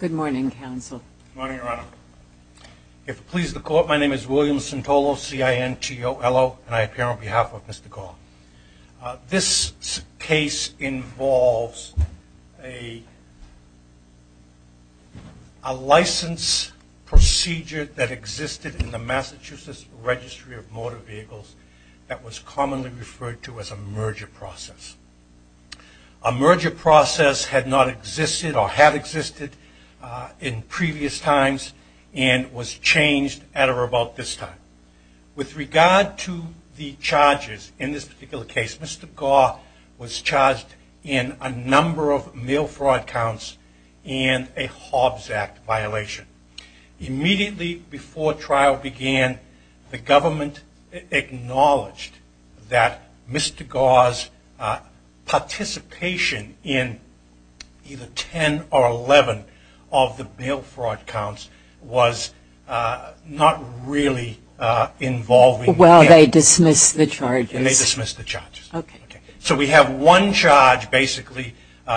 Good morning, Council. Good morning, Your Honor. If it pleases the Court, my name is William Sintolo, C-I-N-T-O-L-O, and I appear on behalf of Mr. Gaw. This case involves a license procedure that existed in the Massachusetts Registry of Motor Vehicles that was commonly referred to as a merger process. A merger process had not existed or had existed in previous times and was changed at or about this time. With regard to the charges in this particular case, Mr. Gaw was charged in a number of mail fraud counts and a Hobbs Act violation. Immediately before trial began, the government acknowledged that Mr. Gaw's participation in either 10 or 11 of the mail fraud counts was not really involving mail. Well, they dismissed the charges. And they dismissed the charges. Okay. So we have one charge basically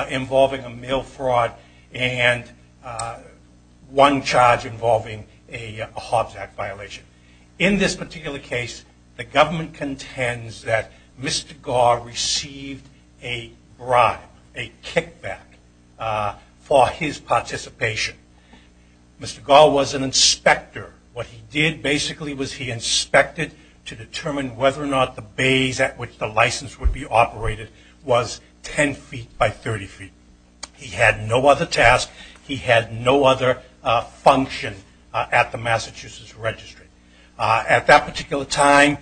involving a mail fraud and one charge involving a Hobbs Act violation. In this particular case, the government contends that Mr. Gaw received a bribe, a kickback, for his participation. Mr. Gaw was an inspector. What he did basically was he inspected to determine whether or not the bays at which the license would be operated was 10 feet by 30 feet. He had no other task. He had no other function at the Massachusetts Registry. At that particular time,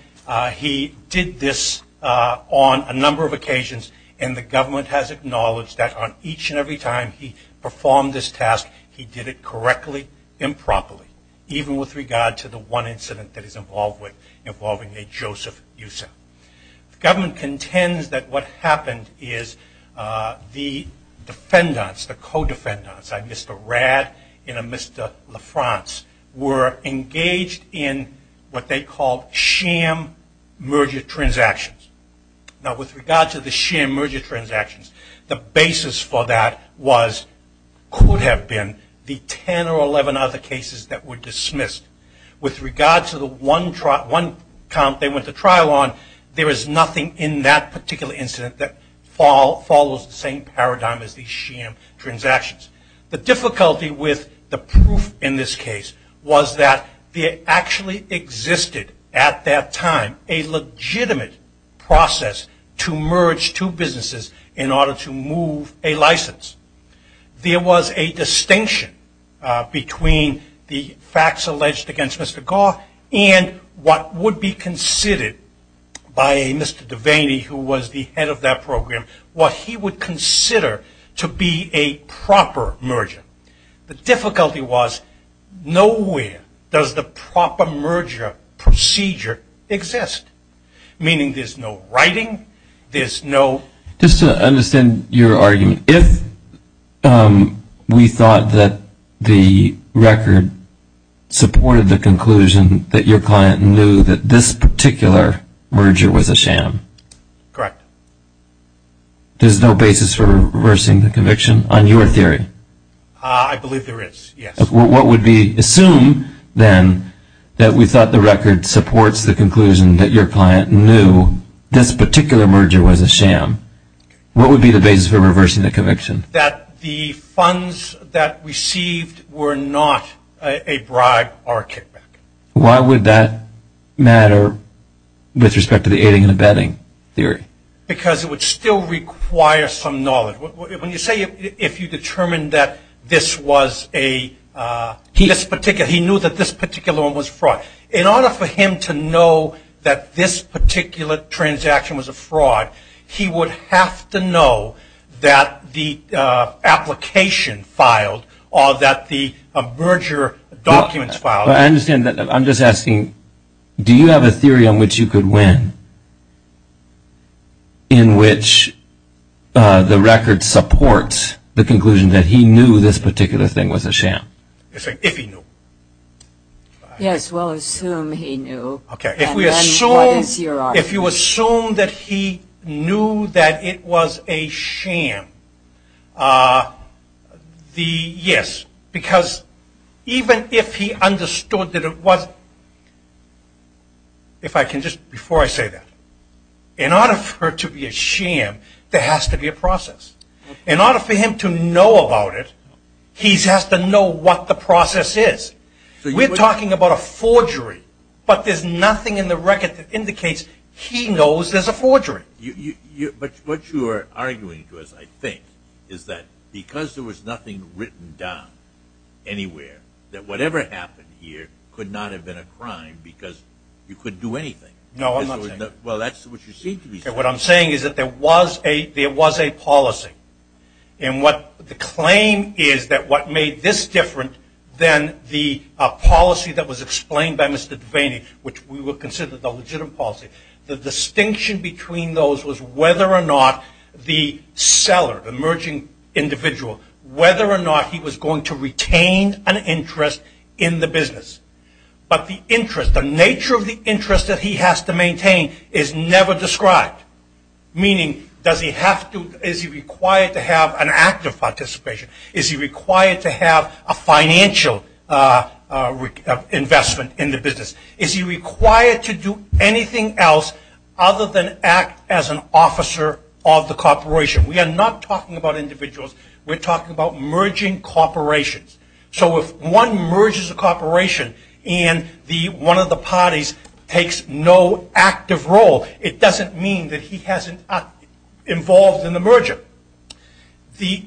he did this on a number of occasions, and the government has acknowledged that on each and every time he performed this task, he did it correctly and properly, even with regard to the one incident that he's involved with involving a Joseph Yusef. The government contends that what happened is the defendants, the co-defendants, a Mr. Rad and a Mr. LaFrance, were engaged in what they called sham merger transactions. Now with regard to the sham merger transactions, the basis for that was, could have been, the 10 or 11 other cases that were dismissed. With regard to the one count they went to trial on, there is nothing in that particular incident that follows the same paradigm as the sham transactions. The difficulty with the proof in this case was that there actually existed at that time a legitimate process to merge two businesses in order to move a license. There was a distinction between the facts alleged against Mr. Goff and what would be considered by Mr. Devaney, who was the head of that program, what he would consider to be a proper merger. The difficulty was nowhere does the proper merger procedure exist. Meaning there's no writing, there's no... Just to understand your argument, if we thought that the record supported the conclusion that your client knew that this particular merger was a sham. Correct. There's no basis for reversing the conviction on your theory? I believe there is, yes. What would be assumed then that we thought the record supports the conclusion that your client knew this particular merger was a sham. What would be the basis for reversing the conviction? That the funds that received were not a bribe or a kickback. Why would that matter with respect to the aiding and abetting theory? Because it would still require some knowledge. When you say if you determined that this was a... He knew that this particular one was fraud. In order for him to know that this particular transaction was a fraud, he would have to know that the application filed or that the merger documents filed. I understand that. I'm just asking, do you have a theory on which you could win, in which the record supports the conclusion that he knew this particular thing was a sham? If he knew. Yes, we'll assume he knew. Okay. If we assume... And then what is your argument? If you assume that he knew that it was a sham, yes. Because even if he understood that it wasn't, if I can just, before I say that, in order for it to be a sham, there has to be a process. In order for him to know about it, he has to know what the process is. We're talking about a forgery, but there's nothing in the record that indicates he knows there's a forgery. But what you are arguing to us, I think, is that because there was nothing written down anywhere, that whatever happened here could not have been a crime because you couldn't do anything. No, I'm not saying that. Well, that's what you seem to be saying. What I'm saying is that there was a policy. And the claim is that what made this different than the policy that was explained by Mr. Devaney, which we would consider the legitimate policy, the distinction between those was whether or not the seller, the emerging individual, whether or not he was going to retain an interest in the business. But the interest, the nature of the interest that he has to maintain is never described. Meaning, does he have to, is he required to have an active participation? Is he required to have a financial investment in the business? Is he required to do anything else other than act as an officer of the corporation? We are not talking about individuals. We're talking about merging corporations. So if one merges a corporation and one of the parties takes no active role, it doesn't mean that he hasn't involved in the merger. The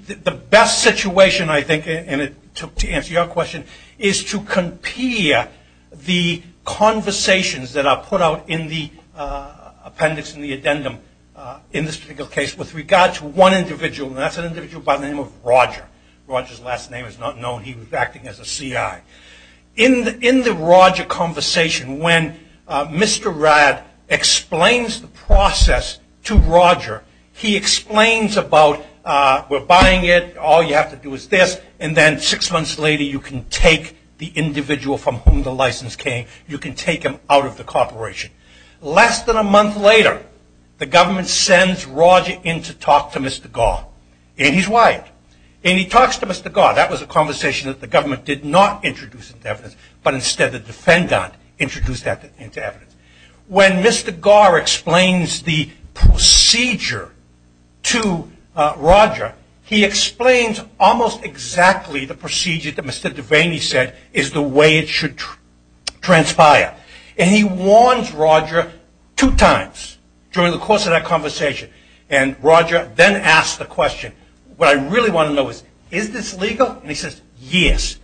best situation, I think, and to answer your question, is to compare the conversations that are put out in the appendix and the addendum in this particular case with regard to one individual, and that's an individual by the name of Roger. Roger's last name is not known. He was acting as a C.I. In the Roger conversation, when Mr. Rad explains the process to Roger, he explains about we're buying it, all you have to do is this, and then six months later you can take the individual from whom the license came, you can take him out of the corporation. Less than a month later, the government sends Roger in to talk to Mr. Gar, and he's wired. And he talks to Mr. Gar. That was a conversation that the government did not introduce into evidence, but instead the defendant introduced that into evidence. When Mr. Gar explains the procedure to Roger, he explains almost exactly the procedure that Mr. Devaney said is the way it should transpire. And he warns Roger two times during the course of that conversation, and Roger then asks the question, what I really want to know is, is this legal? And he says, yes,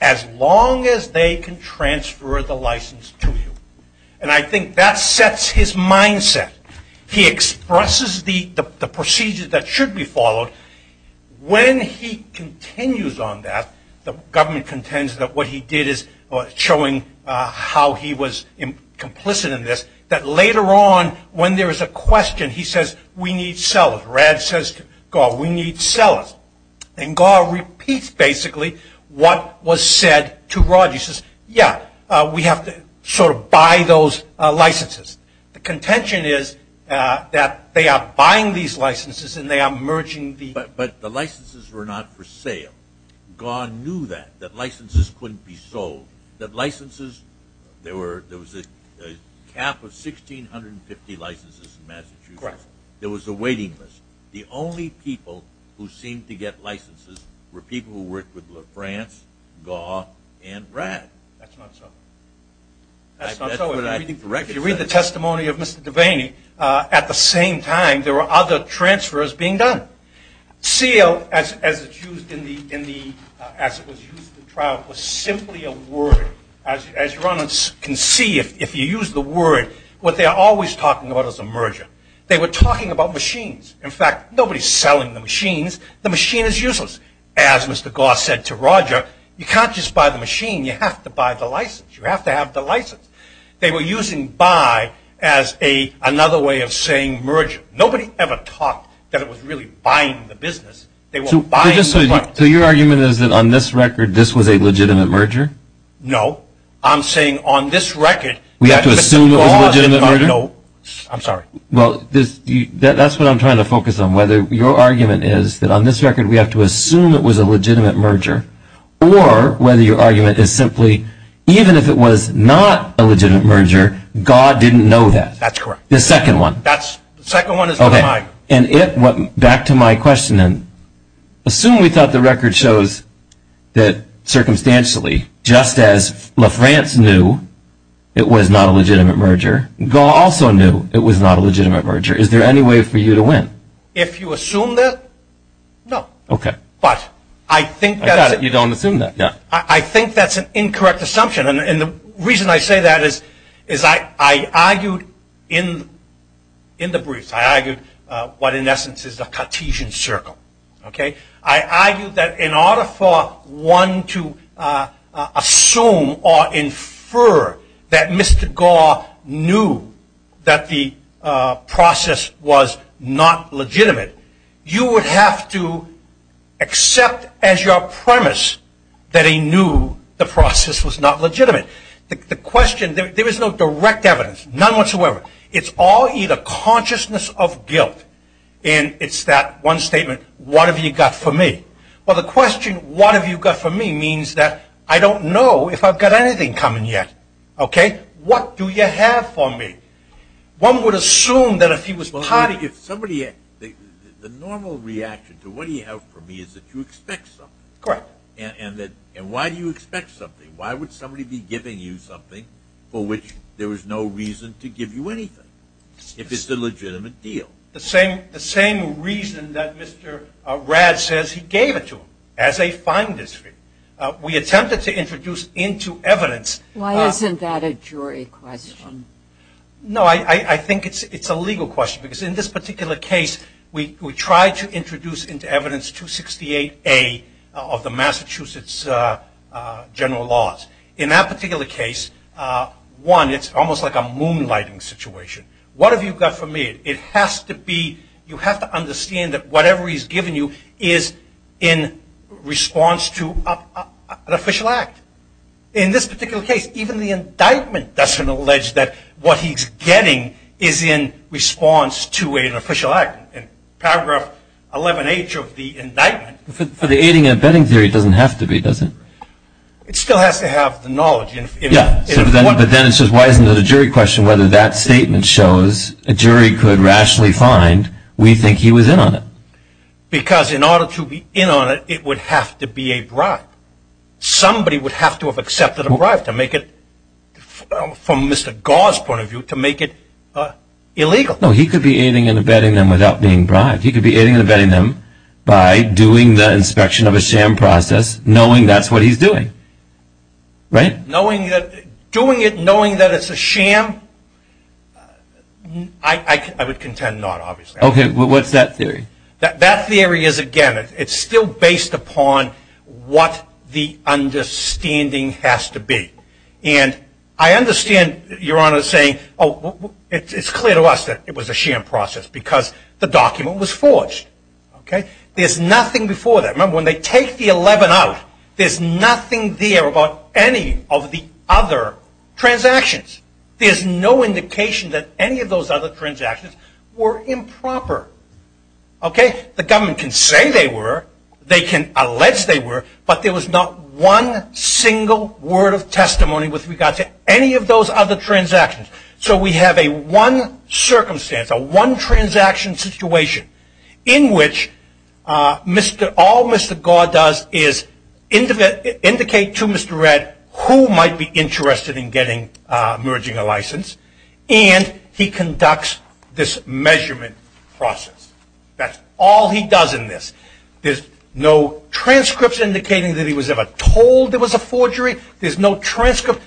as long as they can transfer the license to you. And I think that sets his mindset. He expresses the procedure that should be followed. When he continues on that, the government contends that what he did is showing how he was complicit in this, that later on when there is a question, he says, we need sellers. Rad says to Gar, we need sellers. And Gar repeats basically what was said to Roger. And he says, yeah, we have to sort of buy those licenses. The contention is that they are buying these licenses and they are merging them. But the licenses were not for sale. Gar knew that, that licenses couldn't be sold. That licenses, there was a cap of 1,650 licenses in Massachusetts. Correct. There was a waiting list. The only people who seemed to get licenses were people who worked with France, Gar, and Rad. That's not so. That's not so. If you read the testimony of Mr. Devaney, at the same time there were other transfers being done. Seal, as it was used in the trial, was simply a word. As you can see, if you use the word, what they are always talking about is a merger. They were talking about machines. In fact, nobody is selling the machines. The machine is useless. As Mr. Gar said to Roger, you can't just buy the machine. You have to buy the license. You have to have the license. They were using buy as another way of saying merger. Nobody ever talked that it was really buying the business. They were buying the market. So your argument is that on this record, this was a legitimate merger? No. I'm saying on this record. We have to assume it was a legitimate merger? No. I'm sorry. Well, that's what I'm trying to focus on. Whether your argument is that on this record we have to assume it was a legitimate merger, or whether your argument is simply even if it was not a legitimate merger, God didn't know that. That's correct. The second one. The second one is not mine. Okay. And back to my question then. Assume we thought the record shows that circumstantially, just as La France knew it was not a legitimate merger, God also knew it was not a legitimate merger. Is there any way for you to win? If you assume that, no. Okay. But I think that's an incorrect assumption. And the reason I say that is I argued in the briefs, I argued what in essence is a Cartesian circle. I argued that in order for one to assume or infer that Mr. Gore knew that the process was not legitimate, you would have to accept as your premise that he knew the process was not legitimate. The question, there is no direct evidence, none whatsoever. It's all either consciousness of guilt, and it's that one statement, what have you got for me? Well, the question, what have you got for me, means that I don't know if I've got anything coming yet. Okay. What do you have for me? One would assume that if he was part of it. If somebody, the normal reaction to what do you have for me is that you expect something. Correct. And why do you expect something? Why would somebody be giving you something for which there is no reason to give you anything if it's a legitimate deal? The same reason that Mr. Rad says he gave it to him as a fine discreet. We attempted to introduce into evidence. Why isn't that a jury question? No, I think it's a legal question because in this particular case, we tried to introduce into evidence 268A of the Massachusetts general laws. In that particular case, one, it's almost like a moonlighting situation. What have you got for me? It has to be, you have to understand that whatever he's given you is in response to an official act. In this particular case, even the indictment doesn't allege that what he's getting is in response to an official act. In paragraph 11H of the indictment. For the aiding and abetting theory, it doesn't have to be, does it? It still has to have the knowledge. Yeah. But then it says why isn't it a jury question whether that statement shows a jury could rationally find we think he was in on it. Because in order to be in on it, it would have to be a bribe. Somebody would have to have accepted a bribe to make it, from Mr. Gar's point of view, to make it illegal. No, he could be aiding and abetting them without being bribed. He could be aiding and abetting them by doing the inspection of a sham process, knowing that's what he's doing. Right? Knowing that, doing it knowing that it's a sham, I would contend not, obviously. Okay. What's that theory? That theory is, again, it's still based upon what the understanding has to be. And I understand Your Honor saying, oh, it's clear to us that it was a sham process because the document was forged. Okay. There's nothing before that. Remember, when they take the 11 out, there's nothing there about any of the other transactions. There's no indication that any of those other transactions were improper. Okay. The government can say they were. They can allege they were. But there was not one single word of testimony with regard to any of those other transactions. So we have a one circumstance, a one transaction situation, in which all Mr. Gar does is indicate to Mr. Red who might be interested in merging a license. And he conducts this measurement process. That's all he does in this. There's no transcripts indicating that he was ever told there was a forgery. There's no transcript,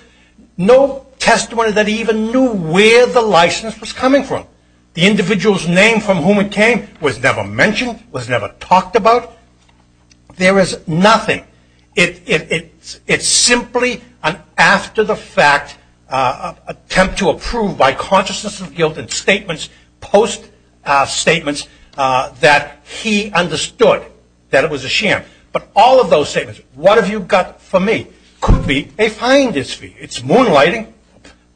no testimony that he even knew where the license was coming from. The individual's name from whom it came was never mentioned, was never talked about. There is nothing. It's simply an after-the-fact attempt to approve by consciousness of guilt and statements, post-statements, that he understood that it was a sham. But all of those statements, what have you got for me, could be a fine dispute. It's moonlighting,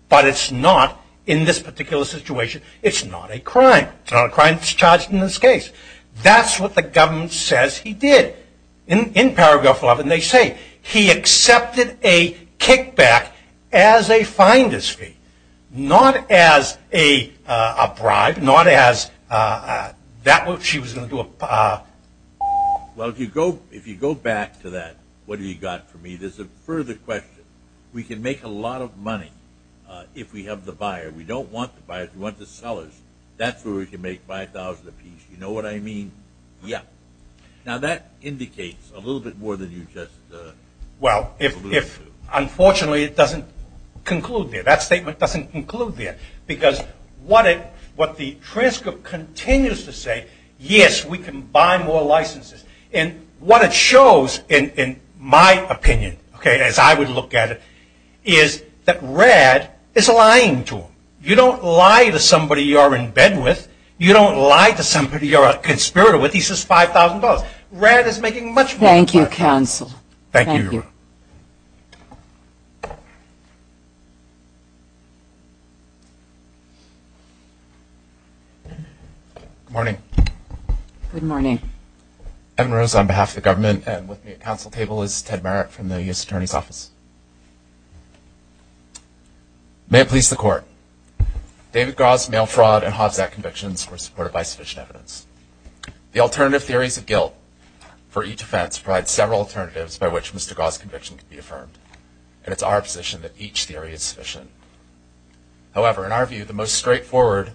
but it's not in this particular situation. It's not a crime. It's not a crime that's charged in this case. That's what the government says he did. In Paragraph 11, they say he accepted a kickback as a fine dispute, not as a bribe, not as that which he was going to do. Well, if you go back to that, what have you got for me, there's a further question. We can make a lot of money if we have the buyer. We don't want the buyer. We want the sellers. That's where we can make $5,000 apiece. You know what I mean? Yeah. Now, that indicates a little bit more than you just alluded to. Well, unfortunately, it doesn't conclude there. That statement doesn't conclude there because what the transcript continues to say, yes, we can buy more licenses. And what it shows, in my opinion, okay, as I would look at it, is that Rad is lying to him. You don't lie to somebody you're in bed with. You don't lie to somebody you're a conspirator with. He says $5,000. Rad is making much more than that. Thank you, counsel. Thank you. Good morning. Good morning. Evan Rose on behalf of the government and with me at council table is Ted Merritt from the U.S. Attorney's Office. May it please the Court, David Gau's mail fraud and Hobbs Act convictions were supported by sufficient evidence. The alternative theories of guilt for each offense provide several alternatives by which Mr. Gau's conviction can be affirmed, and it's our position that each theory is sufficient. However, in our view, the most straightforward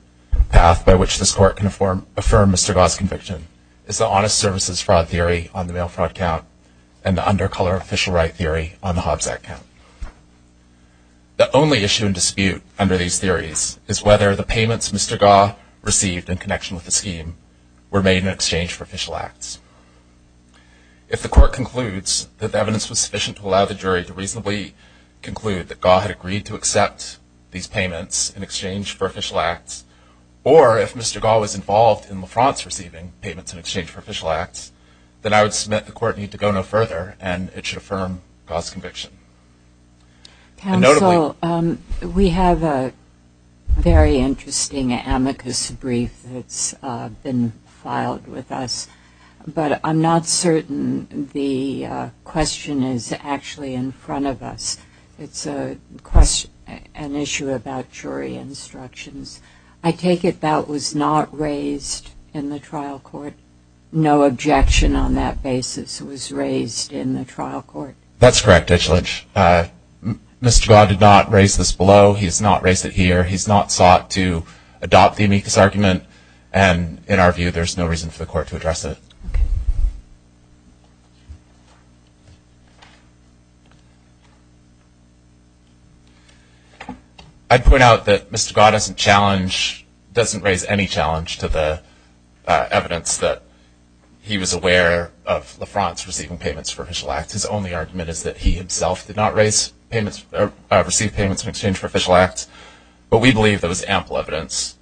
path by which this Court can affirm Mr. Gau's conviction is the honest services fraud theory on the mail fraud count and the undercolor official right theory on the Hobbs Act count. The only issue in dispute under these theories is whether the payments Mr. Gau received in connection with the scheme were made in exchange for official acts. If the Court concludes that the evidence was sufficient to allow the jury to reasonably conclude that Gau had agreed to accept these payments in exchange for official acts, or if Mr. Gau was involved in LaFrance receiving payments in exchange for official acts, then I would submit the Court need to go no further and it should affirm Gau's conviction. Counsel, we have a very interesting amicus brief that's been filed with us, but I'm not certain the question is actually in front of us. It's an issue about jury instructions. I take it that was not raised in the trial court? No objection on that basis was raised in the trial court? That's correct, Judge Lynch. Mr. Gau did not raise this below. He's not raised it here. He's not sought to adopt the amicus argument, and in our view, there's no reason for the Court to address it. Okay. I'd point out that Mr. Gau doesn't challenge, doesn't raise any challenge to the evidence that he was aware of LaFrance receiving payments for official acts. His only argument is that he himself did not raise payments or receive payments in exchange for official acts, but we believe there was ample evidence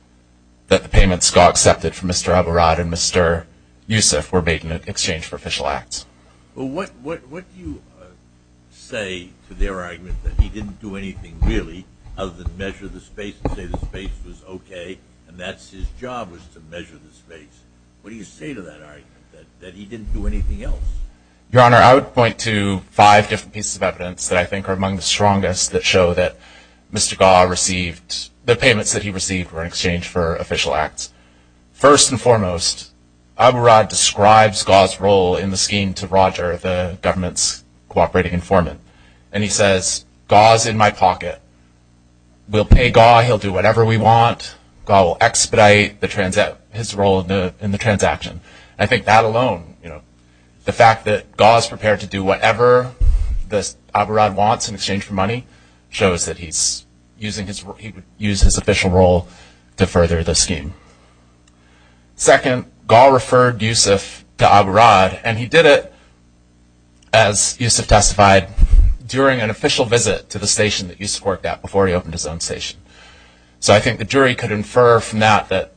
that the payments Gau accepted from Mr. Abarat and Mr. Youssef were made in exchange for official acts. Well, what do you say to their argument that he didn't do anything, really, other than measure the space and say the space was okay and that his job was to measure the space? What do you say to that argument, that he didn't do anything else? Your Honor, I would point to five different pieces of evidence that I think are among the strongest that show that Mr. Gau received, the payments that he received were in exchange for official acts. First and foremost, Abarat describes Gau's role in the scheme to Roger, the government's cooperating informant, and he says, Gau's in my pocket. We'll pay Gau, he'll do whatever we want, Gau will expedite his role in the transaction. I think that alone, the fact that Gau is prepared to do whatever Abarat wants in exchange for money, shows that he would use his official role to further the scheme. Second, Gau referred Youssef to Abarat, and he did it, as Youssef testified, during an official visit to the station that Youssef worked at before he opened his own station. So I think the jury could infer from that that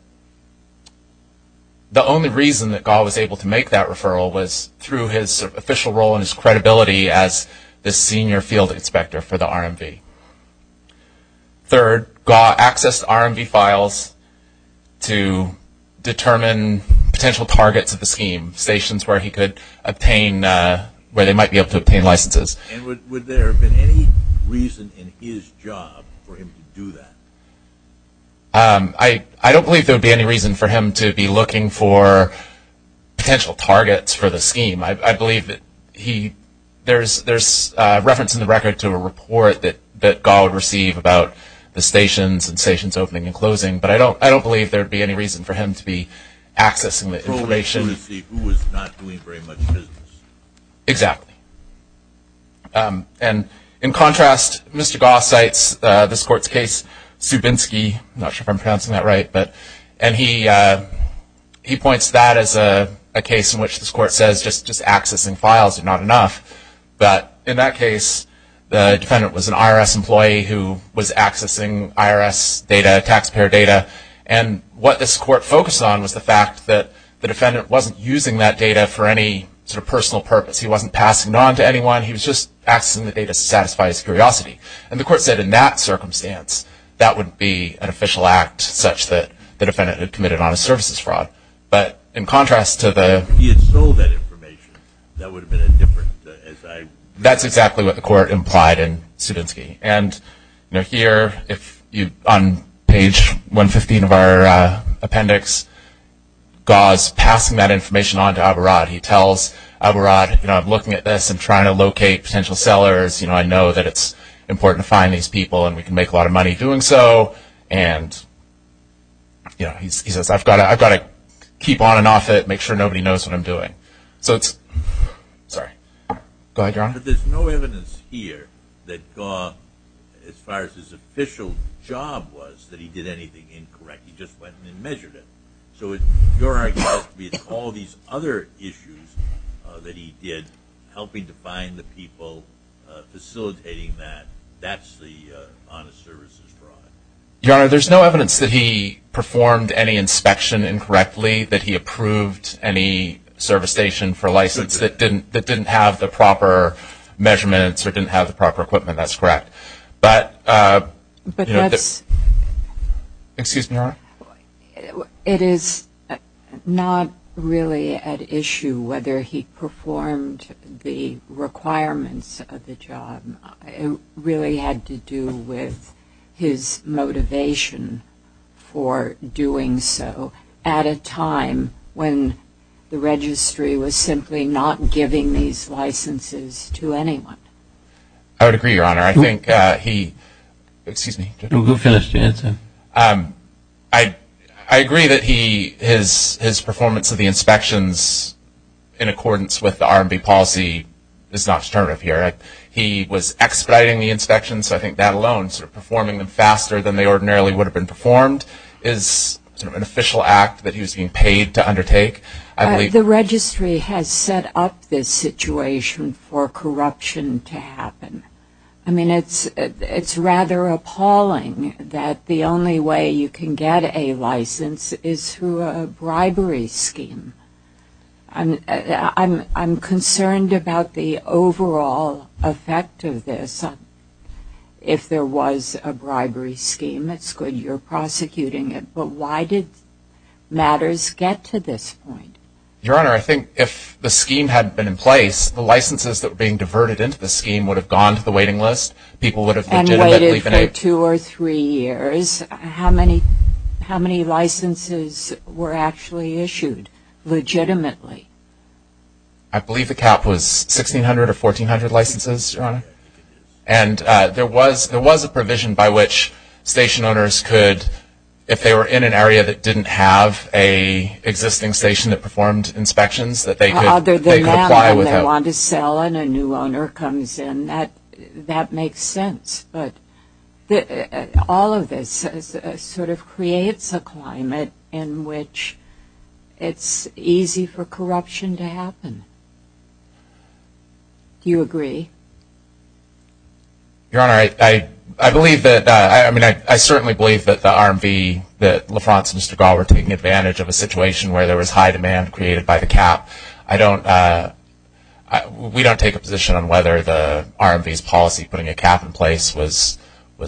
the only reason that Gau was able to make that referral was through his official role and his credibility as the senior field inspector for the RMV. Third, Gau accessed RMV files to determine potential targets of the scheme, stations where he could obtain, where they might be able to obtain licenses. And would there have been any reason in his job for him to do that? I don't believe there would be any reason for him to be looking for potential targets for the scheme. I believe that there's reference in the record to a report that Gau would receive about the stations and stations opening and closing, but I don't believe there would be any reason for him to be accessing the information. To see who was not doing very much business. Exactly. And in contrast, Mr. Gau cites this court's case, Subinski. I'm not sure if I'm pronouncing that right. And he points to that as a case in which this court says just accessing files is not enough. But in that case, the defendant was an IRS employee who was accessing IRS data, taxpayer data, and what this court focused on was the fact that the defendant wasn't using that data for any sort of personal purpose. He wasn't passing it on to anyone. He was just accessing the data to satisfy his curiosity. And the court said in that circumstance, that would be an official act such that the defendant had committed on a services fraud. But in contrast to the – If he had sold that information, that would have been a different – That's exactly what the court implied in Subinski. And here, on page 115 of our appendix, Gau is passing that information on to Abarad. He tells Abarad, you know, I'm looking at this and trying to locate potential sellers. You know, I know that it's important to find these people and we can make a lot of money doing so. And, you know, he says, I've got to keep on and off it, make sure nobody knows what I'm doing. So it's – sorry. Go ahead, Your Honor. But there's no evidence here that Gau, as far as his official job was, that he did anything incorrect. He just went and measured it. So your argument would be it's all these other issues that he did, helping to find the people, facilitating that. That's the honest services fraud. Your Honor, there's no evidence that he performed any inspection incorrectly, that he approved any service station for license that didn't have the proper measurements or didn't have the proper equipment. That's correct. But, you know, that's – Excuse me, Your Honor. It is not really at issue whether he performed the requirements of the job. It really had to do with his motivation for doing so at a time when the registry was simply not giving these licenses to anyone. I would agree, Your Honor. I think he – excuse me. Go ahead. Finish the answer. I agree that he – his performance of the inspections in accordance with the R&B policy is not disturbing here. He was expediting the inspections, so I think that alone, sort of performing them faster than they ordinarily would have been performed, is an official act that he was being paid to undertake. The registry has set up this situation for corruption to happen. I mean, it's rather appalling that the only way you can get a license is through a bribery scheme. I'm concerned about the overall effect of this. If there was a bribery scheme, it's good you're prosecuting it. But why did matters get to this point? Your Honor, I think if the scheme had been in place, the licenses that were being diverted into the scheme would have gone to the waiting list. People would have legitimately been able to – And waited for two or three years. How many licenses were actually issued legitimately? I believe the cap was 1,600 or 1,400 licenses, Your Honor. And there was a provision by which station owners could, if they were in an area that didn't have an existing station that performed inspections, that they could apply without – Other than that, when they want to sell and a new owner comes in, that makes sense. But all of this sort of creates a climate in which it's easy for corruption to happen. Do you agree? Your Honor, I believe that – I mean, I certainly believe that the RMV, that LaFrance and Stegall were taking advantage of a situation where there was high demand created by the cap. I don't – we don't take a position on whether the RMV's policy, putting a cap in place, was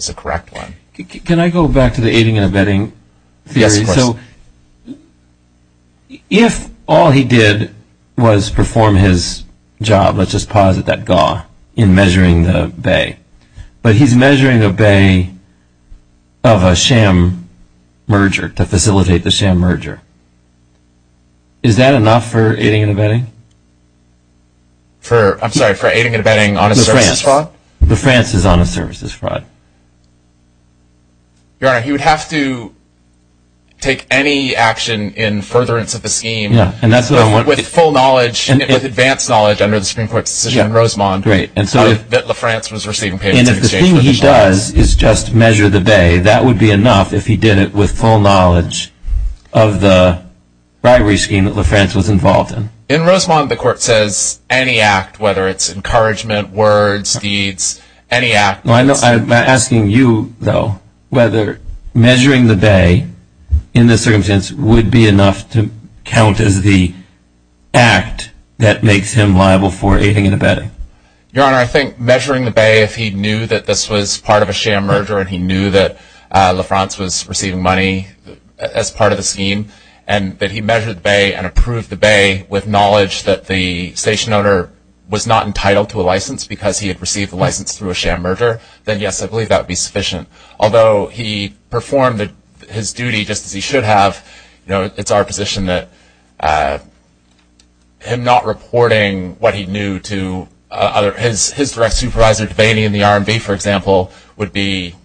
a correct one. Can I go back to the aiding and abetting theory? Yes, of course. So if all he did was perform his job, let's just posit that GAW, in measuring the bay, but he's measuring a bay of a sham merger to facilitate the sham merger. Is that enough for aiding and abetting? I'm sorry, for aiding and abetting on a services fraud? LaFrance. LaFrance is on a services fraud. Your Honor, he would have to take any action in furtherance of the scheme with full knowledge, with advanced knowledge under the Supreme Court's decision in Rosemont that LaFrance was receiving payments in exchange for the sham. And if the thing he does is just measure the bay, that would be enough if he did it with full knowledge of the bribery scheme that LaFrance was involved in. In Rosemont, the Court says any act, whether it's encouragement, words, deeds, any act. I'm asking you, though, whether measuring the bay in this circumstance would be enough to count as the act that makes him liable for aiding and abetting. Your Honor, I think measuring the bay, if he knew that this was part of a sham merger and he knew that LaFrance was receiving money as part of the scheme and that he measured the bay and approved the bay with knowledge that the station owner was not entitled to a license because he had received a license through a sham merger, then yes, I believe that would be sufficient. Although he performed his duty just as he should have, it's our position that him not reporting what he knew to his direct supervisor debating in the RMV, for example, would be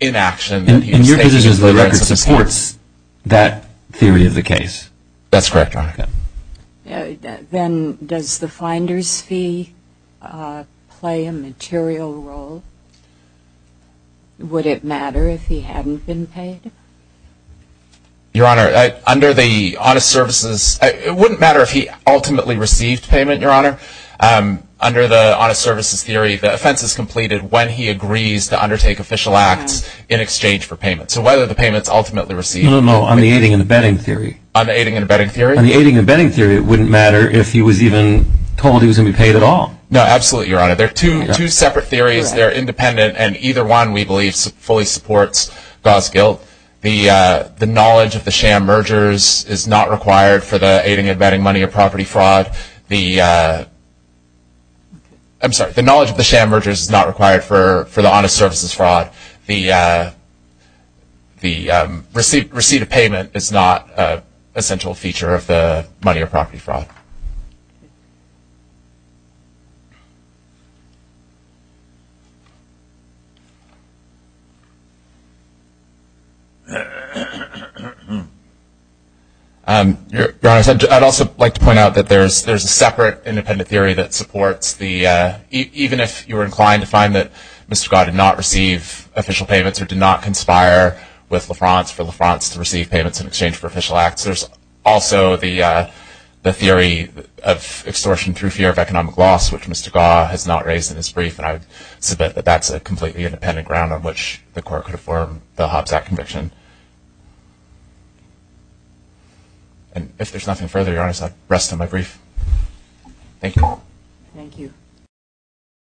inaction. And your position is that the record supports that theory of the case? That's correct, Your Honor. Okay. Then does the finder's fee play a material role? Would it matter if he hadn't been paid? Your Honor, under the honest services, it wouldn't matter if he ultimately received payment, Your Honor. Under the honest services theory, the offense is completed when he agrees to undertake official acts in exchange for payment. So whether the payment's ultimately received. No, no, no, on the aiding and abetting theory. On the aiding and abetting theory? On the aiding and abetting theory, it wouldn't matter if he was even told he was going to be paid at all. No, absolutely, Your Honor. They're two separate theories. They're independent, and either one we believe fully supports Gau's guilt. The knowledge of the sham mergers is not required for the aiding and abetting money or property fraud. The knowledge of the sham mergers is not required for the honest services fraud. The receipt of payment is not an essential feature of the money or property fraud. Your Honor, I'd also like to point out that there's a separate independent theory that supports the, even if you were inclined to find that Mr. Gau did not receive official payments or did not conspire with LaFrance for LaFrance to receive payments in exchange for official acts, there's also the theory of extortion through fear of economic loss, which Mr. Gau has not raised in his brief, and I submit that that's a completely independent ground on which the court could form the Hobbs Act conviction. And if there's nothing further, Your Honor, I'll rest on my brief. Thank you. Thank you.